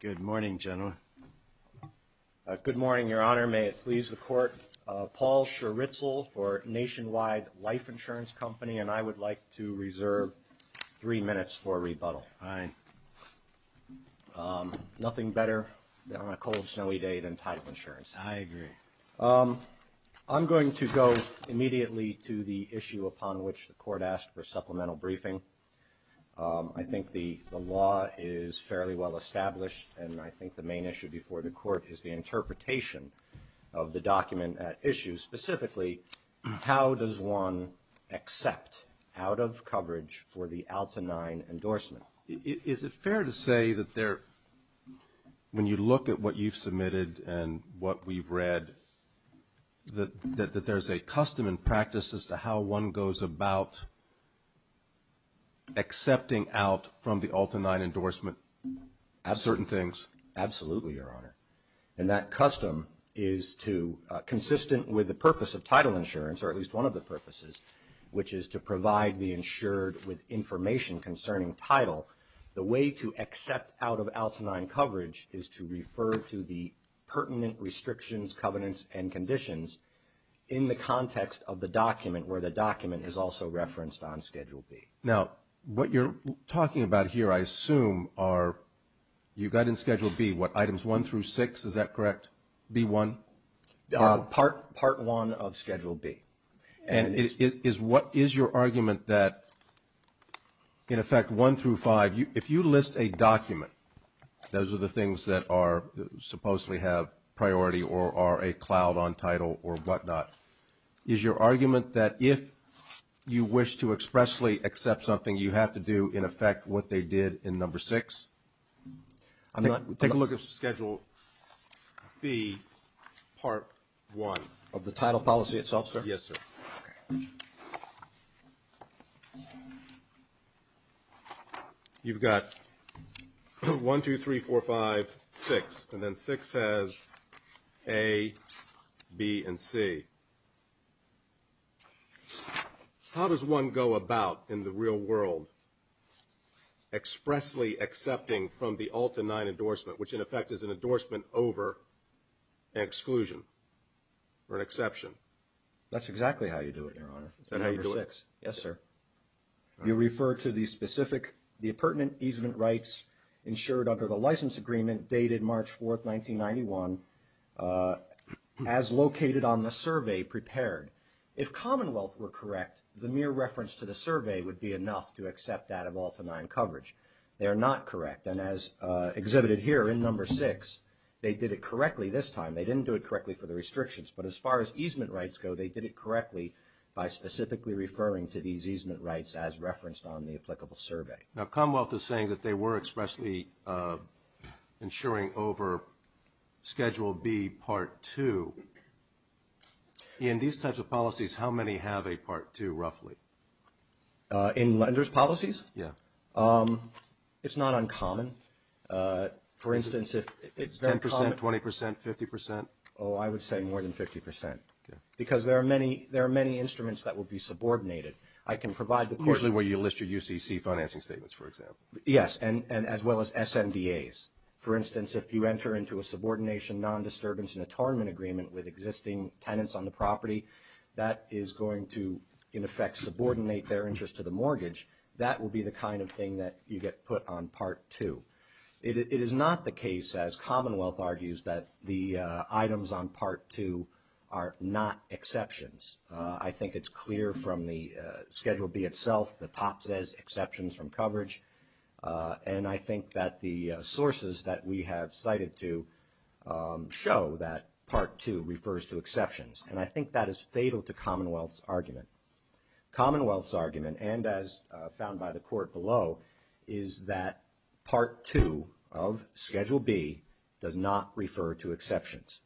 Good morning, Your Honor. May it please the Court, Paul Scheritzel for Nationwide Life Insurance Company, and I would like to reserve three minutes for rebuttal. Nothing better on a cold, snowy day than title insurance. I agree. I'm going to go immediately to the issue upon which the Court asked for supplemental briefing. I think the law is fairly well established, and I think the main issue before the Court is the interpretation of the document at issue. Specifically, how does one accept out-of-coverage for the Alta IX endorsement? Is it fair to say that when you look at what you've submitted and what we've read, that there's a custom and practice as to how one goes about accepting out from the Alta IX endorsement certain things? Absolutely, Your Honor. And that custom is consistent with the purpose of title insurance, or at least one of the purposes, which is to provide the insured with information concerning title. The way to accept out-of-Alta IX coverage is to refer to the pertinent restrictions, covenants, and conditions in the context of the document where the document is also referenced on Schedule B. Now, what you're talking about here, I assume, are you got in Schedule B, what, Items 1 through 6, is that correct, B1? Part 1 of Schedule B. And what is your argument that, in effect, 1 through 5, if you list a document, those are the things that supposedly have priority or are a cloud on title or whatnot, is your argument that if you wish to expressly accept something, you have to do, in effect, what they did in Number 6? Take a look at Schedule B, Part 1. Of the title policy itself, sir? Yes, sir. You've got 1, 2, 3, 4, 5, 6, and then 6 has A, B, and C. How does one go about, in the real world, expressly accepting from the Alta IX endorsement, which, in effect, is an endorsement over an exclusion or an exception? That's exactly how you do it, Your Honor. Is that how you do it? Number 6. Yes, sir. You refer to the specific, the pertinent easement rights ensured under the license agreement dated March 4, 1991, as located on the survey prepared. If Commonwealth were correct, the mere reference to the survey would be enough to accept that of Alta IX coverage. They are not correct, and as exhibited here in Number 6, they did it correctly this time. They didn't do it correctly for the restrictions, but as far as easement rights go, they did it correctly by specifically referring to these easement rights as referenced on the applicable survey. Now, Commonwealth is saying that they were expressly ensuring over Schedule B, Part 2. In these types of policies, how many have a Part 2, roughly? In lenders' policies? Yes. It's not uncommon. It's 10%, 20%, 50%? Oh, I would say more than 50%. Okay. Because there are many instruments that will be subordinated. Usually where you list your UCC financing statements, for example. Yes, and as well as SMDAs. For instance, if you enter into a subordination, non-disturbance, and atonement agreement with existing tenants on the property, that is going to, in effect, subordinate their interest to the mortgage, that will be the kind of thing that you get put on Part 2. It is not the case, as Commonwealth argues, that the items on Part 2 are not exceptions. I think it's clear from the Schedule B itself. The top says exceptions from coverage, and I think that the sources that we have cited to show that Part 2 refers to exceptions, and I think that is fatal to Commonwealth's argument. Commonwealth's argument, and as found by the Court below, is that Part 2 of Schedule B does not refer to exceptions.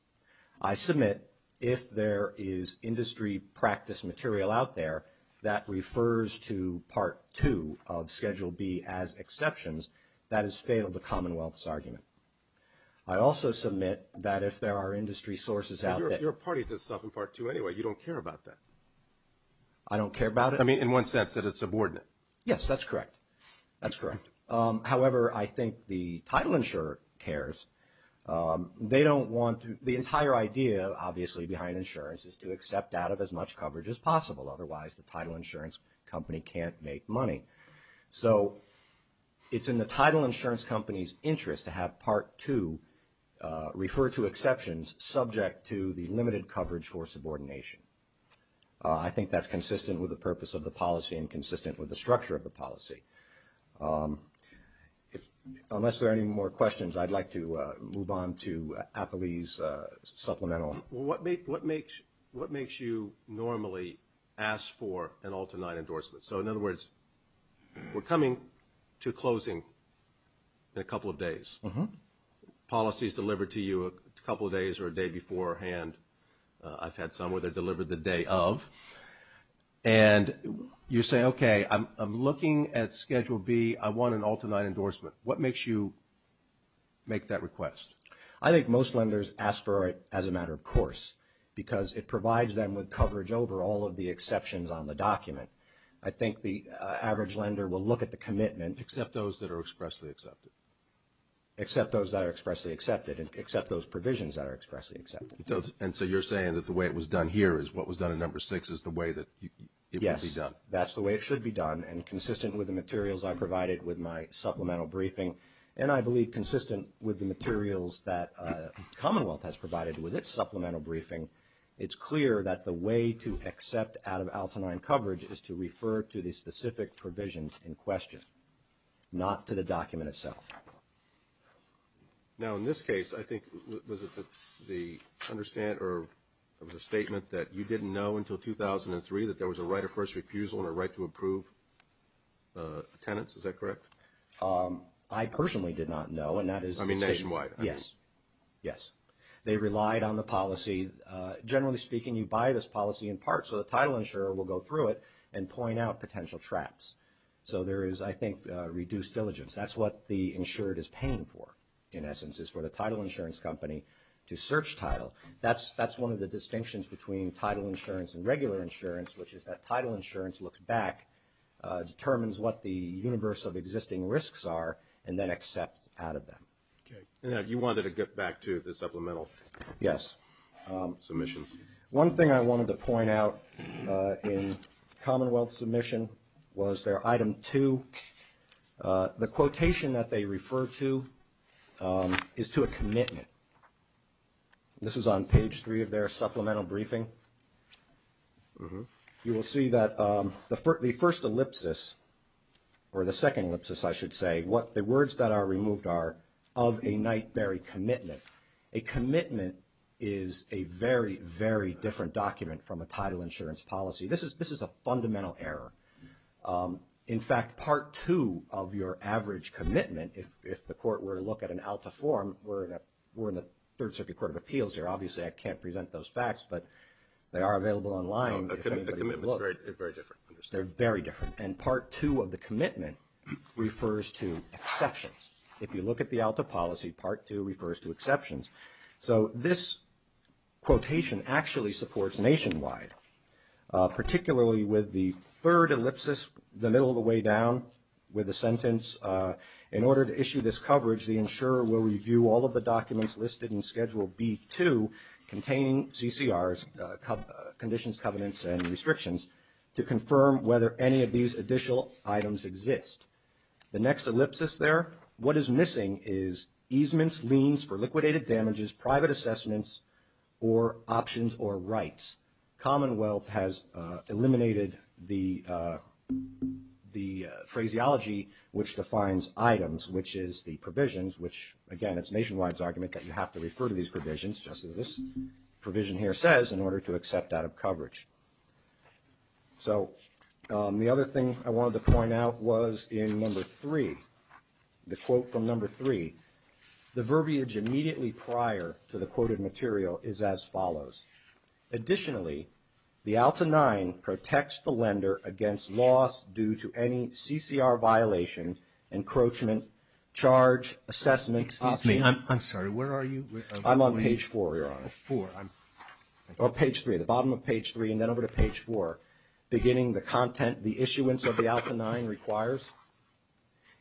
I submit if there is industry practice material out there that refers to Part 2 of Schedule B as exceptions, that is fatal to Commonwealth's argument. I also submit that if there are industry sources out there. You're a party to this stuff in Part 2 anyway. You don't care about that. I don't care about it? I mean, in one sense, that it's subordinate. Yes, that's correct. That's correct. However, I think the title insurer cares. They don't want to. The entire idea, obviously, behind insurance is to accept out of as much coverage as possible. Otherwise, the title insurance company can't make money. So it's in the title insurance company's interest to have Part 2 refer to exceptions subject to the limited coverage for subordination. I think that's consistent with the purpose of the policy and consistent with the structure of the policy. Unless there are any more questions, I'd like to move on to Affili's supplemental. What makes you normally ask for an alternate endorsement? So, in other words, we're coming to a closing in a couple of days. Policy is delivered to you a couple of days or a day beforehand. I've had some where they're delivered the day of. And you say, okay, I'm looking at Schedule B. I want an alternate endorsement. What makes you make that request? I think most lenders ask for it as a matter of course because it provides them with coverage over all of the exceptions on the document. I think the average lender will look at the commitment. Except those that are expressly accepted. Except those that are expressly accepted and except those provisions that are expressly accepted. And so you're saying that the way it was done here is what was done in Number 6 is the way that it would be done. Yes, that's the way it should be done and consistent with the materials I provided with my supplemental briefing. And I believe consistent with the materials that Commonwealth has provided with its supplemental briefing, it's clear that the way to accept out-of-Alta 9 coverage is to refer to the specific provisions in question, not to the document itself. Now, in this case, I think, was it the understand or was it a statement that you didn't know until 2003 that there was a right of first refusal and a right to approve tenants, is that correct? I personally did not know and that is the statement. I mean nationwide. Yes, yes. They relied on the policy. Generally speaking, you buy this policy in part so the title insurer will go through it and point out potential traps. So there is, I think, reduced diligence. That's what the insured is paying for, in essence, is for the title insurance company to search title. That's one of the distinctions between title insurance and regular insurance, which is that title insurance looks back, determines what the universal existing risks are, and then accepts out of them. Okay. Now, you wanted to get back to the supplemental. Yes. Submissions. One thing I wanted to point out in Commonwealth submission was their item 2. The quotation that they refer to is to a commitment. This is on page 3 of their supplemental briefing. You will see that the first ellipsis, or the second ellipsis, I should say, the words that are removed are of a Knight-Berry commitment. A commitment is a very, very different document from a title insurance policy. This is a fundamental error. In fact, part 2 of your average commitment, if the court were to look at an ALTA form, we're in the Third Circuit Court of Appeals here. Obviously, I can't present those facts, but they are available online. A commitment is very different. They're very different. And part 2 of the commitment refers to exceptions. If you look at the ALTA policy, part 2 refers to exceptions. So this quotation actually supports nationwide, particularly with the third ellipsis, the middle of the way down with the sentence, In order to issue this coverage, the insurer will review all of the documents listed in Schedule B-2 containing CCRs, conditions, covenants, and restrictions, to confirm whether any of these additional items exist. The next ellipsis there, what is missing is easements, liens for liquidated damages, private assessments, or options or rights. Commonwealth has eliminated the phraseology which defines items, which is the provisions, which, again, it's nationwide's argument that you have to refer to these provisions, just as this provision here says, in order to accept out of coverage. So the other thing I wanted to point out was in number 3, the quote from number 3, the verbiage immediately prior to the quoted material is as follows. Additionally, the ALTA 9 protects the lender against loss due to any CCR violation, encroachment, charge, assessment, option. Excuse me, I'm sorry, where are you? I'm on page 4, Your Honor, or page 3, the bottom of page 3 and then over to page 4, beginning the content, the issuance of the ALTA 9 requires.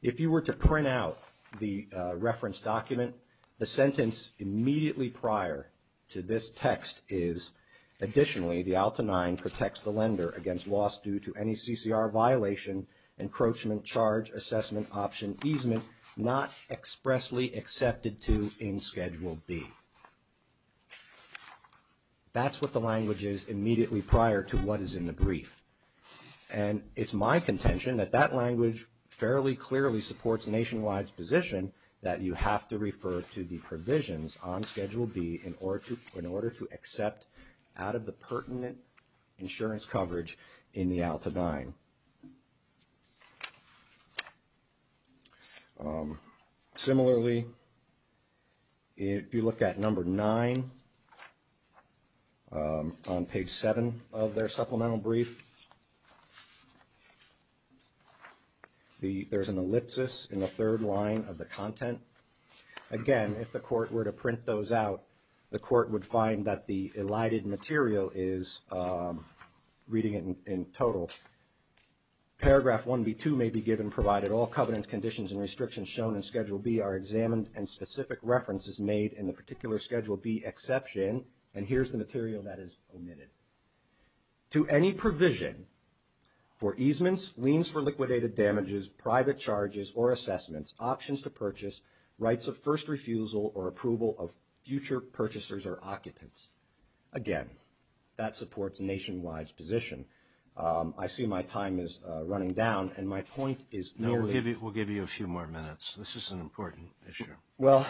If you were to print out the reference document, the sentence immediately prior to this text is, additionally, the ALTA 9 protects the lender against loss due to any CCR violation, encroachment, charge, assessment, option, easement, not expressly accepted to in Schedule B. That's what the language is immediately prior to what is in the brief. And it's my contention that that language fairly clearly supports nationwide's position that you have to refer to the provisions on Schedule B in order to accept out of the pertinent insurance coverage in the ALTA 9. Similarly, if you look at number 9 on page 7 of their supplemental brief, there's an ellipsis in the third line of the content. Again, if the court were to print those out, the court would find that the elided material is reading it in total. Paragraph 1B2 may be given provided all covenants, conditions, and restrictions shown in Schedule B are examined and specific reference is made in the particular Schedule B exception, and here's the material that is omitted. To any provision for easements, liens for liquidated damages, private charges or assessments, options to purchase, rights of first refusal or approval of future purchasers or occupants. Again, that supports nationwide's position. I see my time is running down, and my point is merely... We'll give you a few more minutes. This is an important issue. Well,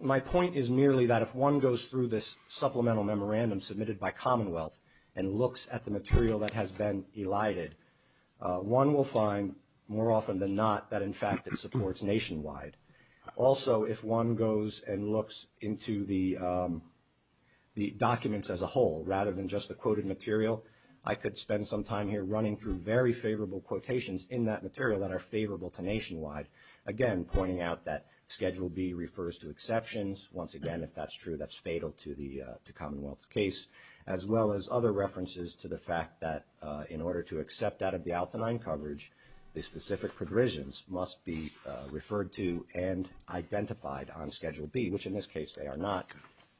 my point is merely that if one goes through this supplemental memorandum submitted by Commonwealth, and looks at the material that has been elided, one will find more often than not that, in fact, it supports nationwide. Also, if one goes and looks into the documents as a whole rather than just the quoted material, I could spend some time here running through very favorable quotations in that material that are favorable to nationwide. Again, pointing out that Schedule B refers to exceptions. Once again, if that's true, that's fatal to Commonwealth's case, as well as other references to the fact that in order to accept that of the Altenine coverage, the specific provisions must be referred to and identified on Schedule B, which in this case they are not,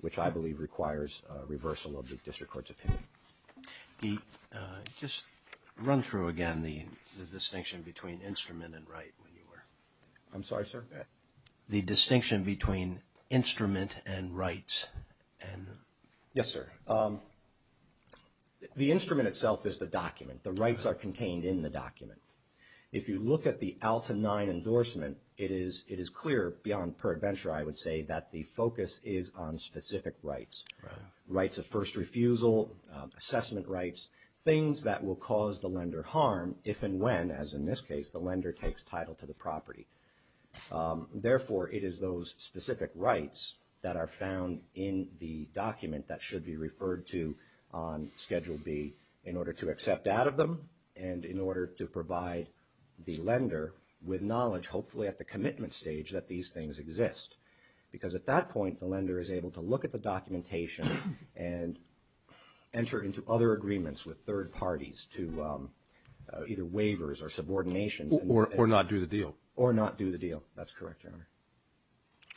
which I believe requires reversal of the district court's opinion. Just run through again the distinction between instrument and right. I'm sorry, sir? The distinction between instrument and rights. Yes, sir. The instrument itself is the document. The rights are contained in the document. If you look at the Altenine endorsement, it is clear beyond per adventure, I would say, that the focus is on specific rights, rights of first refusal, assessment rights, things that will cause the lender harm if and when, as in this case, the lender takes title to the property. Therefore, it is those specific rights that are found in the document that should be referred to on Schedule B in order to accept that of them and in order to provide the lender with knowledge, hopefully at the commitment stage, that these things exist. Because at that point, the lender is able to look at the documentation and enter into other agreements with third parties to either waivers or subordinations. Or not do the deal. Or not do the deal. That's correct, Your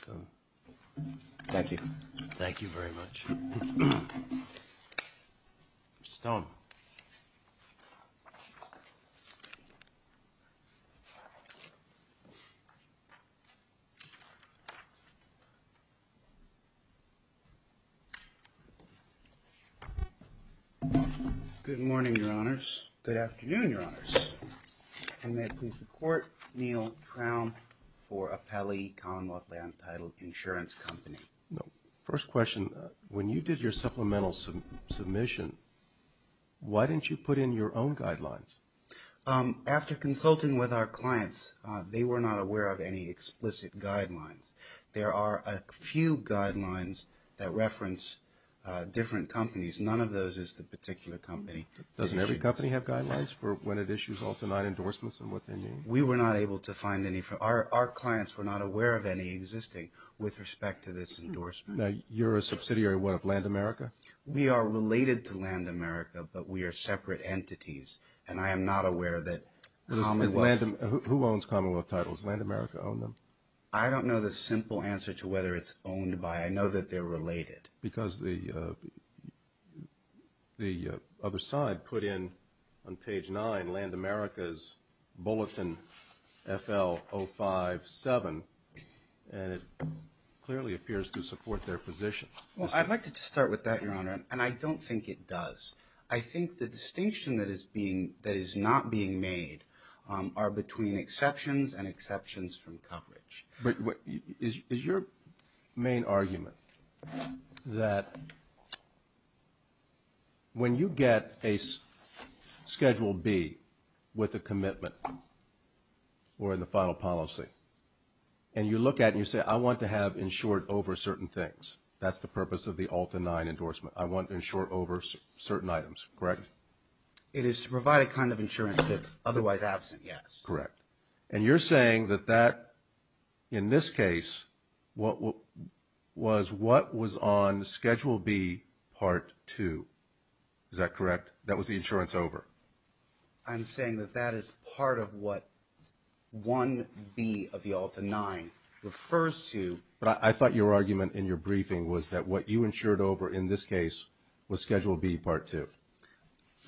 Honor. Thank you. Thank you very much. Mr. Stone. Good morning, Your Honors. Good afternoon, Your Honors. And may it please the Court, Neal Traum for Appellee Commonwealth Land Title Insurance Company. First question, when you did your supplemental submission, why didn't you put in your own guidelines? After consulting with our clients, they were not aware of any explicit guidelines. There are a few guidelines that reference different companies. None of those is the particular company. Doesn't every company have guidelines for when it issues all-to-nine endorsements and what they mean? We were not able to find any. Our clients were not aware of any existing with respect to this endorsement. Now, you're a subsidiary, what, of Land America? We are related to Land America, but we are separate entities. And I am not aware that Commonwealth. Who owns Commonwealth titles? Does Land America own them? I don't know the simple answer to whether it's owned by. I know that they're related. Because the other side put in on page nine, Land America's Bulletin FL-057, and it clearly appears to support their position. Well, I'd like to start with that, Your Honor, and I don't think it does. I think the distinction that is not being made are between exceptions and exceptions from coverage. Is your main argument that when you get a Schedule B with a commitment or the final policy, and you look at it and you say, I want to have insured over certain things, that's the purpose of the all-to-nine endorsement. I want to insure over certain items, correct? It is to provide a kind of insurance that's otherwise absent, yes. Correct. And you're saying that that, in this case, was what was on Schedule B Part 2, is that correct? That was the insurance over. I'm saying that that is part of what 1B of the all-to-nine refers to. But I thought your argument in your briefing was that what you insured over in this case was Schedule B Part 2.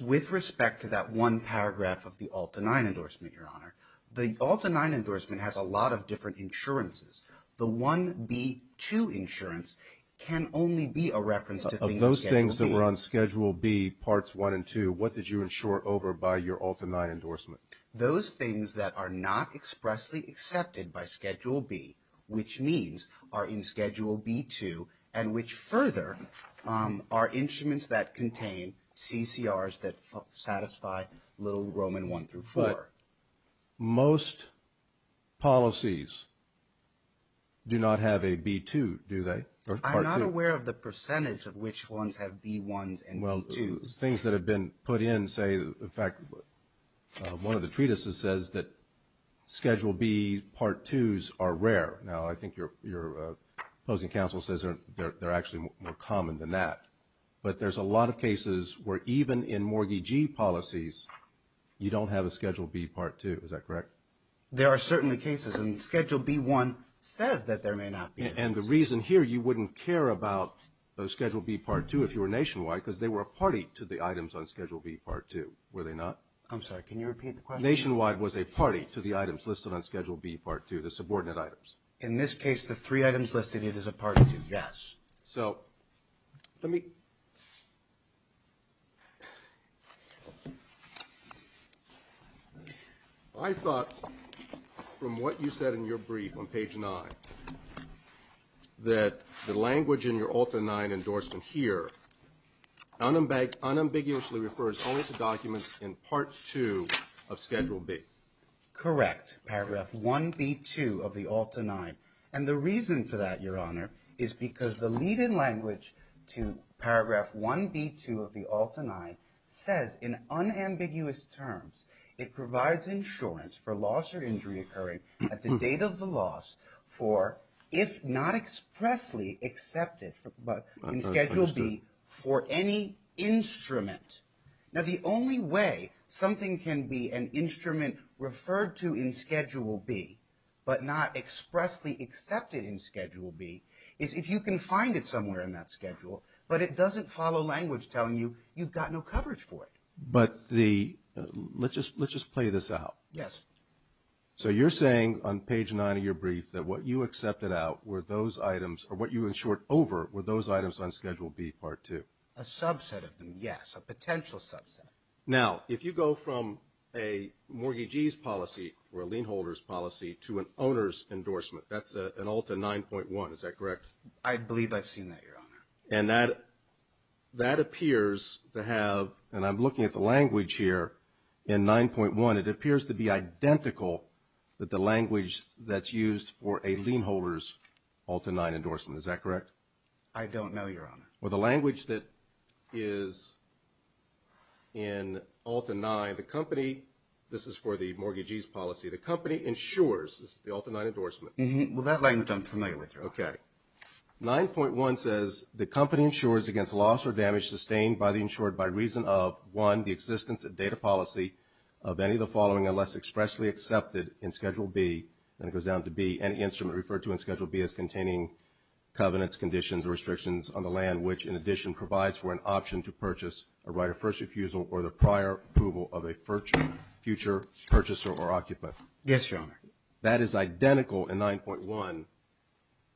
With respect to that one paragraph of the all-to-nine endorsement, Your Honor, the all-to-nine endorsement has a lot of different insurances. The 1B2 insurance can only be a reference to things in Schedule B. Of those things that were on Schedule B Parts 1 and 2, what did you insure over by your all-to-nine endorsement? Those things that are not expressly accepted by Schedule B, which means are in Schedule B2, and which further are instruments that contain CCRs that satisfy Little, Roman 1 through 4. But most policies do not have a B2, do they, or Part 2? I'm not aware of the percentage of which ones have B1s and B2s. Well, things that have been put in say, in fact, one of the treatises says that Schedule B Part 2s are rare. Now, I think your opposing counsel says they're actually more common than that. But there's a lot of cases where even in mortgagee policies, you don't have a Schedule B Part 2. Is that correct? There are certainly cases, and Schedule B1 says that there may not be. And the reason here you wouldn't care about Schedule B Part 2 if you were nationwide, because they were a party to the items on Schedule B Part 2, were they not? I'm sorry. Can you repeat the question? Nationwide was a party to the items listed on Schedule B Part 2, the subordinate items. In this case, the three items listed, it is a party to, yes. So let me – I thought from what you said in your brief on page 9, that the language in your Ulta 9 endorsement here unambiguously refers only to documents in Part 2 of Schedule B. Correct, Paragraph 1B2 of the Ulta 9. And the reason for that, Your Honor, is because the lead-in language to Paragraph 1B2 of the Ulta 9 says in unambiguous terms, it provides insurance for loss or injury occurring at the date of the loss for if not expressly accepted in Schedule B for any instrument. Now, the only way something can be an instrument referred to in Schedule B but not expressly accepted in Schedule B is if you can find it somewhere in that schedule, but it doesn't follow language telling you you've got no coverage for it. But the – let's just play this out. Yes. So you're saying on page 9 of your brief that what you accepted out were those items, or what you insured over were those items on Schedule B Part 2? A subset of them, yes, a potential subset. Now, if you go from a mortgagee's policy or a lien-holder's policy to an owner's endorsement, that's an Ulta 9.1. Is that correct? I believe I've seen that, Your Honor. And that appears to have – and I'm looking at the language here in 9.1. It appears to be identical with the language that's used for a lien-holder's Ulta 9 endorsement. Is that correct? I don't know, Your Honor. Well, the language that is in Ulta 9, the company – this is for the mortgagee's policy. The company insures – this is the Ulta 9 endorsement. Well, that language I'm familiar with, Your Honor. Okay. 9.1 says the company insures against loss or damage sustained by the insured by reason of, one, the existence of data policy of any of the following unless expressly accepted in Schedule B, and it goes down to B, any instrument referred to in Schedule B as containing covenants, conditions, or restrictions on the land, which in addition provides for an option to purchase a right of first refusal or the prior approval of a future purchaser or occupant. Yes, Your Honor. That is identical in 9.1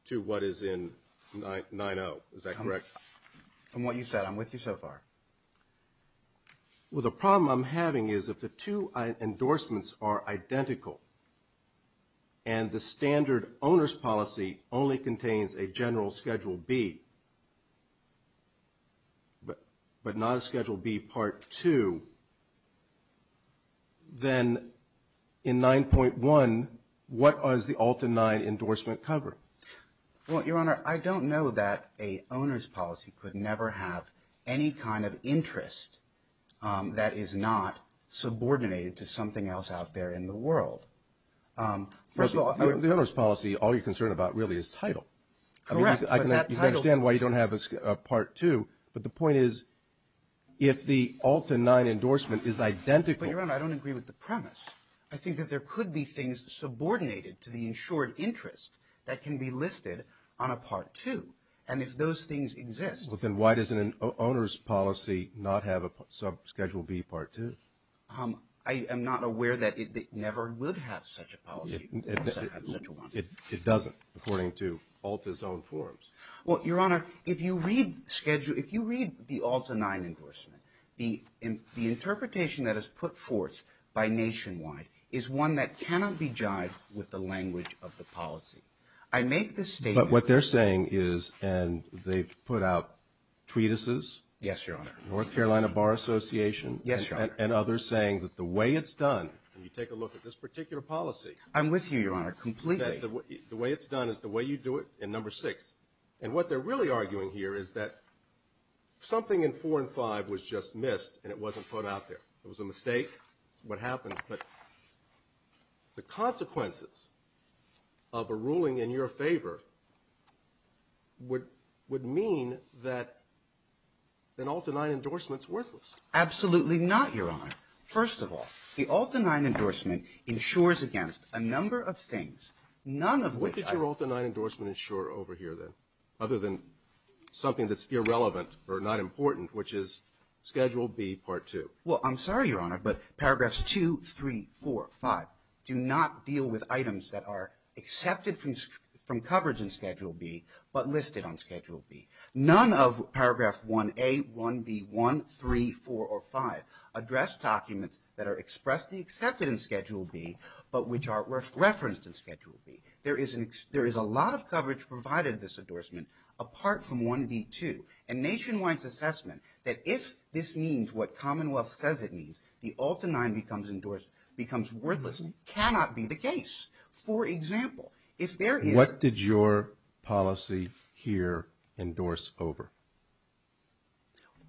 to what is in 9.0. Is that correct? From what you said. I'm with you so far. Well, the problem I'm having is if the two endorsements are identical and the standard owner's policy only contains a general Schedule B, but not a Schedule B Part 2, then in 9.1, what does the Ulta 9 endorsement cover? Well, Your Honor, I don't know that an owner's policy could never have any kind of interest that is not subordinated to something else out there in the world. The owner's policy, all you're concerned about really is title. Correct. You can understand why you don't have a Part 2, but the point is if the Ulta 9 endorsement is identical. But, Your Honor, I don't agree with the premise. I think that there could be things subordinated to the insured interest that can be listed on a Part 2, and if those things exist. Well, then why doesn't an owner's policy not have a Schedule B Part 2? I am not aware that it never would have such a policy. It doesn't, according to Ulta's own forms. Well, Your Honor, if you read the Ulta 9 endorsement, the interpretation that is put forth by Nationwide is one that cannot be jived with the language of the policy. I make this statement. But what they're saying is, and they've put out treatises. Yes, Your Honor. North Carolina Bar Association. Yes, Your Honor. And others saying that the way it's done, and you take a look at this particular policy. I'm with you, Your Honor, completely. The way it's done is the way you do it in Number 6. And what they're really arguing here is that something in 4 and 5 was just missed, and it wasn't put out there. It was a mistake. It's what happened. But the consequences of a ruling in your favor would mean that an Ulta 9 endorsement is worthless. Absolutely not, Your Honor. First of all, the Ulta 9 endorsement insures against a number of things, none of which I do. What did your Ulta 9 endorsement insure over here then, other than something that's irrelevant or not important, which is Schedule B, Part 2? Well, I'm sorry, Your Honor, but Paragraphs 2, 3, 4, 5 do not deal with items that are accepted from coverage in Schedule B, but listed on Schedule B. None of Paragraph 1A, 1B, 1, 3, 4, or 5 address documents that are expressly accepted in Schedule B, but which are referenced in Schedule B. There is a lot of coverage provided in this endorsement apart from 1B, 2. And Nationwide's assessment that if this means what Commonwealth says it means, the Ulta 9 becomes worthless cannot be the case. For example, if there is – What did your policy here endorse over?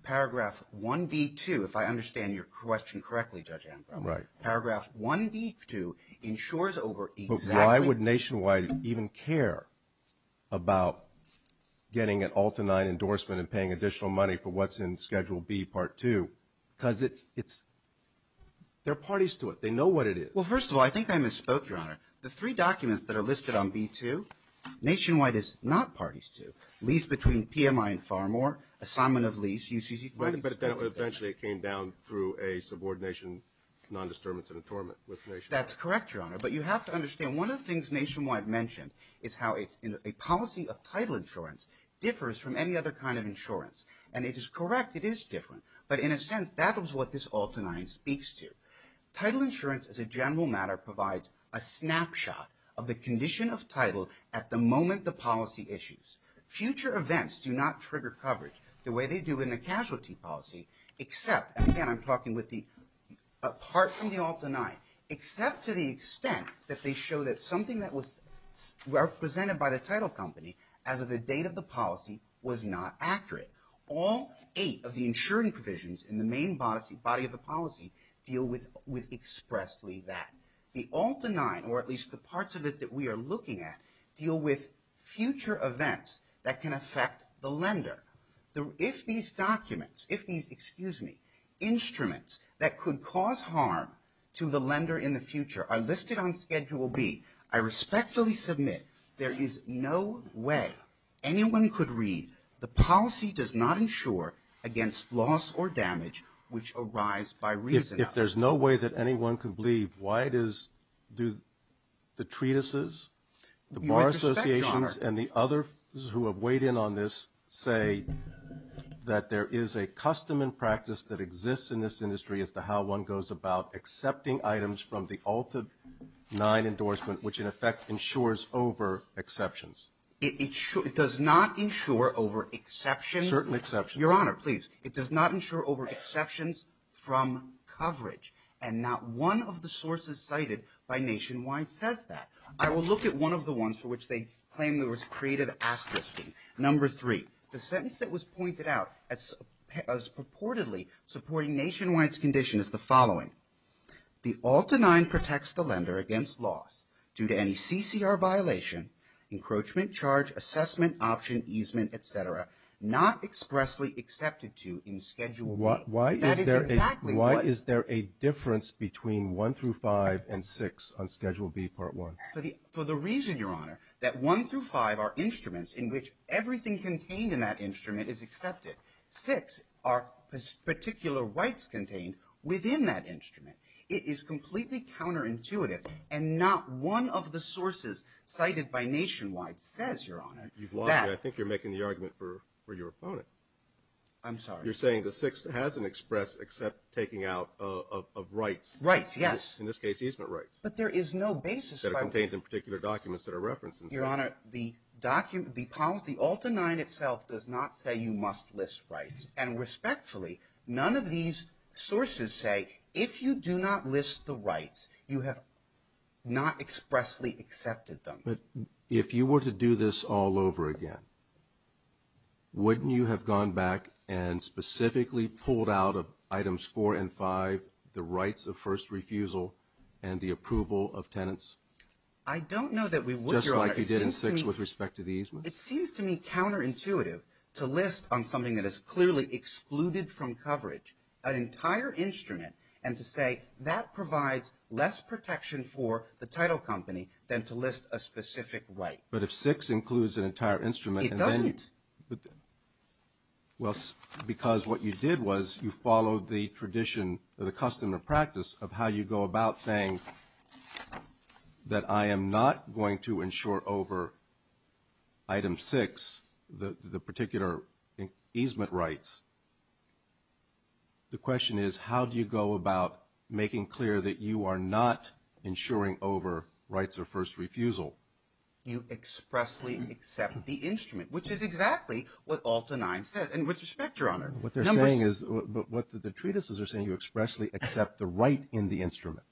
Paragraph 1B, 2, if I understand your question correctly, Judge Amko. Right. Paragraph 1B, 2 insures over exactly – Why would Nationwide even care about getting an Ulta 9 endorsement and paying additional money for what's in Schedule B, Part 2? Because it's – there are parties to it. They know what it is. Well, first of all, I think I misspoke, Your Honor. The three documents that are listed on B2, Nationwide is not parties to. Lease between PMI and Farmore, assignment of lease, UCC – But eventually it came down through a subordination, non-disturbance, and attornement with Nationwide. That's correct, Your Honor. But you have to understand one of the things Nationwide mentioned is how a policy of title insurance differs from any other kind of insurance. And it is correct. It is different. But in a sense, that is what this Ulta 9 speaks to. Title insurance as a general matter provides a snapshot of the condition of title at the moment the policy issues. Future events do not trigger coverage the way they do in a casualty policy except – and that they show that something that was represented by the title company as of the date of the policy was not accurate. All eight of the insuring provisions in the main body of the policy deal with expressly that. The Ulta 9, or at least the parts of it that we are looking at, deal with future events that can affect the lender. If these documents – if these, excuse me, instruments that could cause harm to the lender in the future are listed on Schedule B, I respectfully submit there is no way anyone could read the policy does not insure against loss or damage which arise by reason. If there's no way that anyone could believe, why does the treatises, the bar associations, and the others who have weighed in on this say that there is a custom and practice that exists in this industry as to how one goes about accepting items from the Ulta 9 endorsement, which in effect insures over exceptions? It does not insure over exceptions. Certain exceptions. Your Honor, please. It does not insure over exceptions from coverage. And not one of the sources cited by Nationwide says that. I will look at one of the ones for which they claim there was creative asking. Number three. The sentence that was pointed out as purportedly supporting Nationwide's condition is the following. The Ulta 9 protects the lender against loss due to any CCR violation, encroachment, charge, assessment, option, easement, etc., not expressly accepted to in Schedule B. Why is there a difference between 1 through 5 and 6 on Schedule B, Part 1? For the reason, Your Honor, that 1 through 5 are instruments in which everything contained in that instrument is accepted. Six are particular rights contained within that instrument. It is completely counterintuitive, and not one of the sources cited by Nationwide says, Your Honor, that. I think you're making the argument for your opponent. I'm sorry. You're saying the sixth hasn't expressed except taking out of rights. Rights, yes. In this case, easement rights. But there is no basis. That are contained in particular documents that are referenced. Your Honor, the document, the policy, Ulta 9 itself does not say you must list rights. And respectfully, none of these sources say if you do not list the rights, you have not expressly accepted them. But if you were to do this all over again, wouldn't you have gone back and specifically pulled out of Items 4 and 5 the rights of first refusal and the approval of tenants? I don't know that we would, Your Honor. Just like you did in 6 with respect to the easement? It seems to me counterintuitive to list on something that is clearly excluded from coverage an entire instrument and to say that provides less protection for the title company than to list a specific right. But if 6 includes an entire instrument. It doesn't. Well, because what you did was you followed the tradition or the custom or practice of how you go about saying that I am not going to insure over Item 6 the particular easement rights. The question is how do you go about making clear that you are not insuring over rights of first refusal? You expressly accept the instrument, which is exactly what Ulta 9 says. And with respect, Your Honor. What they're saying is, what the treatises are saying, you expressly accept the right in the instrument.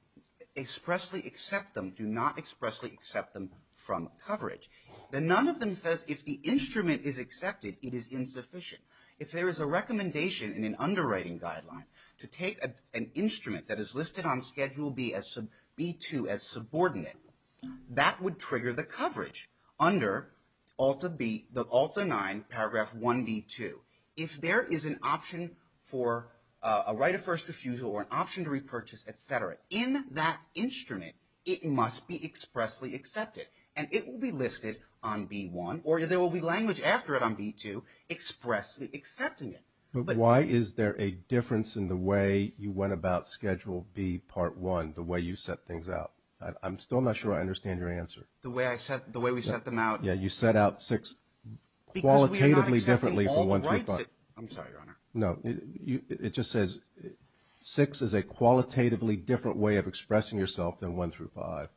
Expressly accept them. Do not expressly accept them from coverage. And none of them says if the instrument is accepted, it is insufficient. If there is a recommendation in an underwriting guideline to take an instrument that is listed on Schedule B2 as subordinate, that would trigger the coverage under Ulta 9, Paragraph 1B2. If there is an option for a right of first refusal or an option to repurchase, et cetera, in that instrument, it must be expressly accepted. And it will be listed on B1 or there will be language after it on B2 expressly accepting it. But why is there a difference in the way you went about Schedule B, Part 1, the way you set things out? I'm still not sure I understand your answer. The way we set them out. Yeah, you set out 6 qualitatively differently from 1 through 5. I'm sorry, Your Honor. No, it just says 6 is a qualitatively different way of expressing yourself than 1 through 5.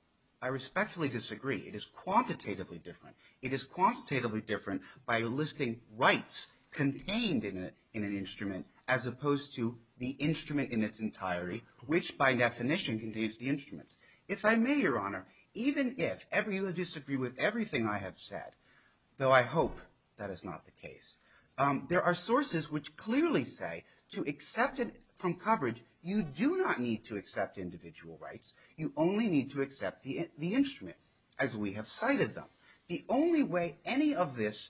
I respectfully disagree. It is quantitatively different. It is quantitatively different by listing rights contained in an instrument as opposed to the instrument in its entirety, which by definition contains the instruments. If I may, Your Honor, even if you disagree with everything I have said, though I hope that is not the case, there are sources which clearly say to accept it from coverage, you do not need to accept individual rights. You only need to accept the instrument as we have cited them. The only way any of this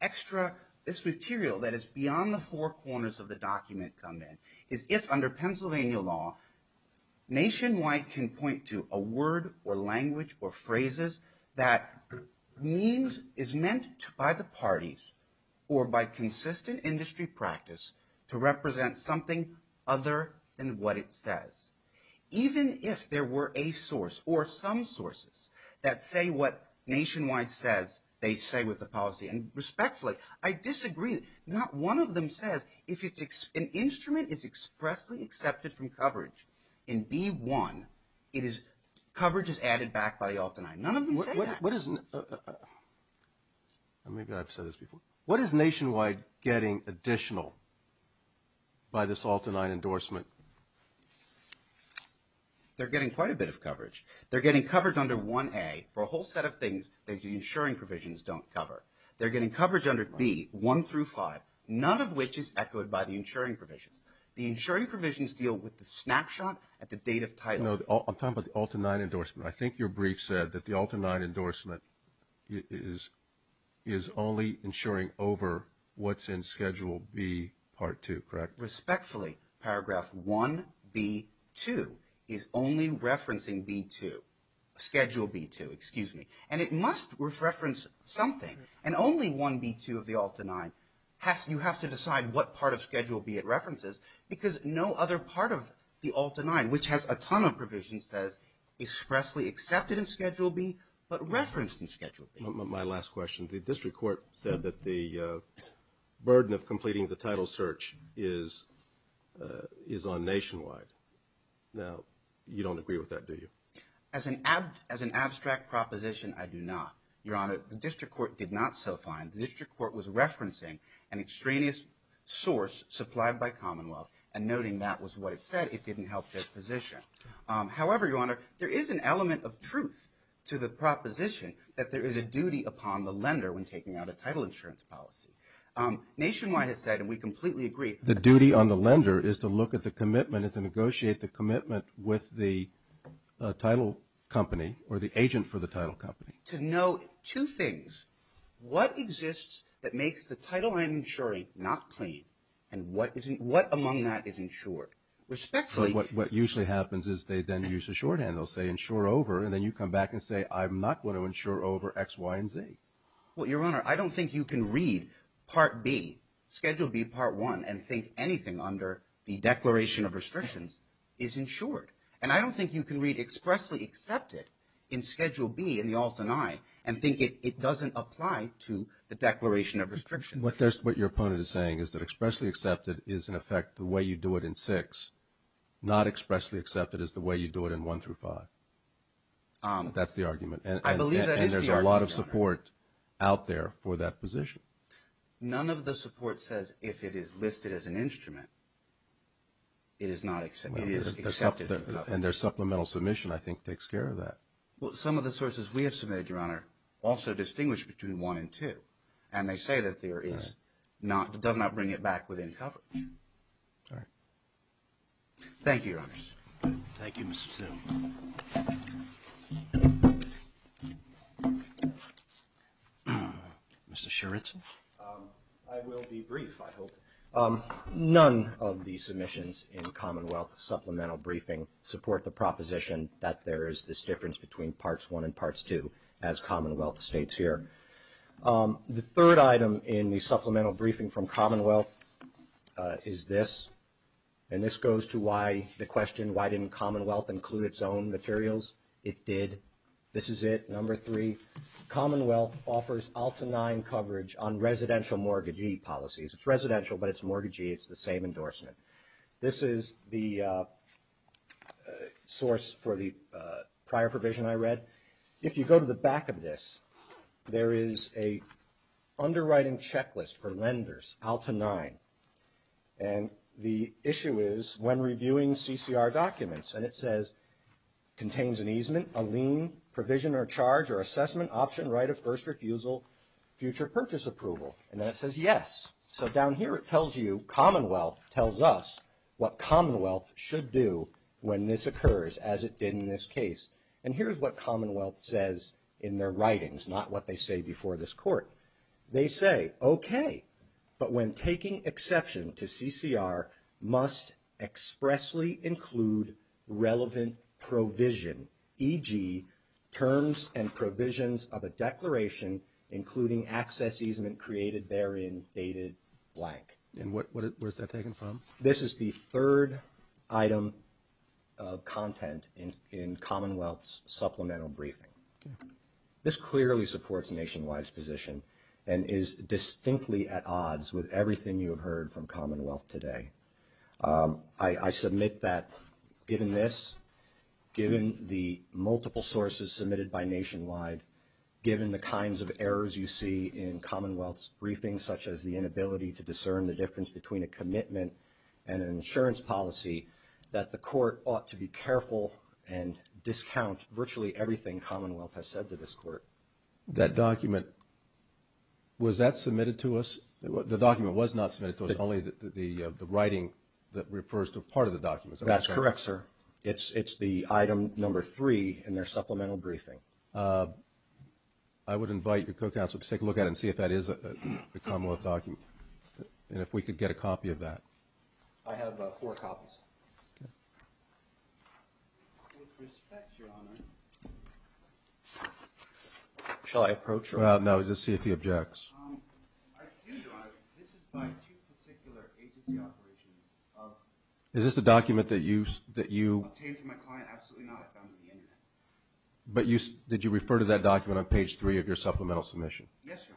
extra, this material that is beyond the four corners of the document come in, is if under Pennsylvania law nationwide can point to a word or language or phrases that means, is meant by the parties or by consistent industry practice to represent something other than what it says. Even if there were a source or some sources that say what nationwide says they say with the policy. And respectfully, I disagree. Not one of them says if an instrument is expressly accepted from coverage in B-1, it is, coverage is added back by ALT-9. None of them say that. Maybe I've said this before. What is nationwide getting additional by this ALT-9 endorsement? They're getting quite a bit of coverage. They're getting coverage under 1A for a whole set of things that the insuring provisions don't cover. They're getting coverage under B, 1 through 5, none of which is echoed by the insuring provisions. The insuring provisions deal with the snapshot at the date of title. No, I'm talking about the ALT-9 endorsement. I think your brief said that the ALT-9 endorsement is only insuring over what's in Schedule B, Part 2, correct? Respectfully, Paragraph 1B-2 is only referencing B-2, Schedule B-2, excuse me. And it must reference something. And only 1B-2 of the ALT-9, you have to decide what part of Schedule B it references, because no other part of the ALT-9, which has a ton of provisions, says expressly accepted in Schedule B but referenced in Schedule B. My last question. The district court said that the burden of completing the title search is on nationwide. Now, you don't agree with that, do you? As an abstract proposition, I do not. Your Honor, the district court did not so find. The district court was referencing an extraneous source supplied by Commonwealth and noting that was what it said. It didn't help their position. However, Your Honor, there is an element of truth to the proposition that there is a duty upon the lender when taking out a title insurance policy. Nationwide has said, and we completely agree. The duty on the lender is to look at the commitment and to negotiate the commitment with the title company or the agent for the title company. To know two things. What exists that makes the title I'm insuring not clean, and what among that is insured? Respectfully. What usually happens is they then use a shorthand. They'll say, insure over, and then you come back and say, I'm not going to insure over X, Y, and Z. Well, Your Honor, I don't think you can read Part B, Schedule B Part 1, and think anything under the Declaration of Restrictions is insured. And I don't think you can read expressly accepted in Schedule B in the Alt and I and think it doesn't apply to the Declaration of Restrictions. What your opponent is saying is that expressly accepted is, in effect, the way you do it in 6. Not expressly accepted is the way you do it in 1 through 5. That's the argument. I believe that is the argument, Your Honor. And there's a lot of support out there for that position. None of the support says if it is listed as an instrument, it is not accepted. It is accepted. And their supplemental submission, I think, takes care of that. Well, some of the sources we have submitted, Your Honor, also distinguish between 1 and 2. And they say that there is not, it does not bring it back within coverage. All right. Thank you, Your Honors. Thank you, Mr. Sill. Mr. Sheridson. I will be brief, I hope. None of the submissions in Commonwealth supplemental briefing support the proposition that there is this difference between Parts 1 and Parts 2, as Commonwealth states here. The third item in the supplemental briefing from Commonwealth is this. And this goes to why the question, why didn't Commonwealth include its own materials? It did. This is it, number three. Commonwealth offers Alta IX coverage on residential mortgagee policies. It's residential, but it's mortgagee. It's the same endorsement. This is the source for the prior provision I read. If you go to the back of this, there is an underwriting checklist for lenders, Alta IX. And the issue is, when reviewing CCR documents, and it says, contains an easement, a lien, provision or charge or assessment, option, right of first refusal, future purchase approval. And then it says, yes. So down here it tells you, Commonwealth tells us what Commonwealth should do when this occurs, as it did in this case. And here's what Commonwealth says in their writings, not what they say before this court. They say, okay, but when taking exception to CCR, must expressly include relevant provision, e.g. terms and provisions of a declaration, including access easement created therein, dated blank. And where's that taken from? This is the third item of content in Commonwealth's supplemental briefing. This clearly supports Nationwide's position and is distinctly at odds with everything you have heard from Commonwealth today. I submit that given this, given the multiple sources submitted by Nationwide, given the kinds of errors you see in Commonwealth's briefings, such as the inability to discern the difference between a commitment and an insurance policy, that the court ought to be careful and discount virtually everything Commonwealth has said to this court. That document, was that submitted to us? The document was not submitted to us, only the writing that refers to part of the document. That's correct, sir. It's the item number three in their supplemental briefing. I would invite your co-counsel to take a look at it and see if that is a Commonwealth document and if we could get a copy of that. I have four copies. With respect, Your Honor. Shall I approach? No, just see if he objects. I do, Your Honor. This is by two particular agency operations. Is this a document that you? Obtained from my client. Absolutely not. I found it on the Internet. But did you refer to that document on page three of your supplemental submission? Yes, Your Honor.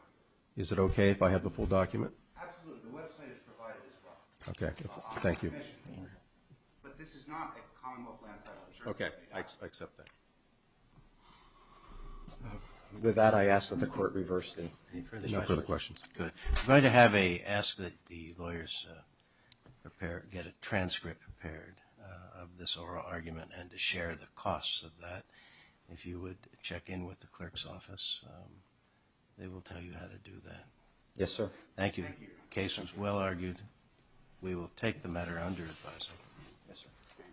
Is it okay if I have the full document? Absolutely. The website is provided as well. Okay. Thank you. But this is not a Commonwealth land title. Okay. I accept that. With that, I ask that the court reverse the questions. Good. We're going to ask that the lawyers get a transcript prepared of this oral argument and to share the costs of that. If you would check in with the clerk's office, they will tell you how to do that. Yes, sir. Thank you. The case was well argued. We will take the matter under advisory. Yes, sir.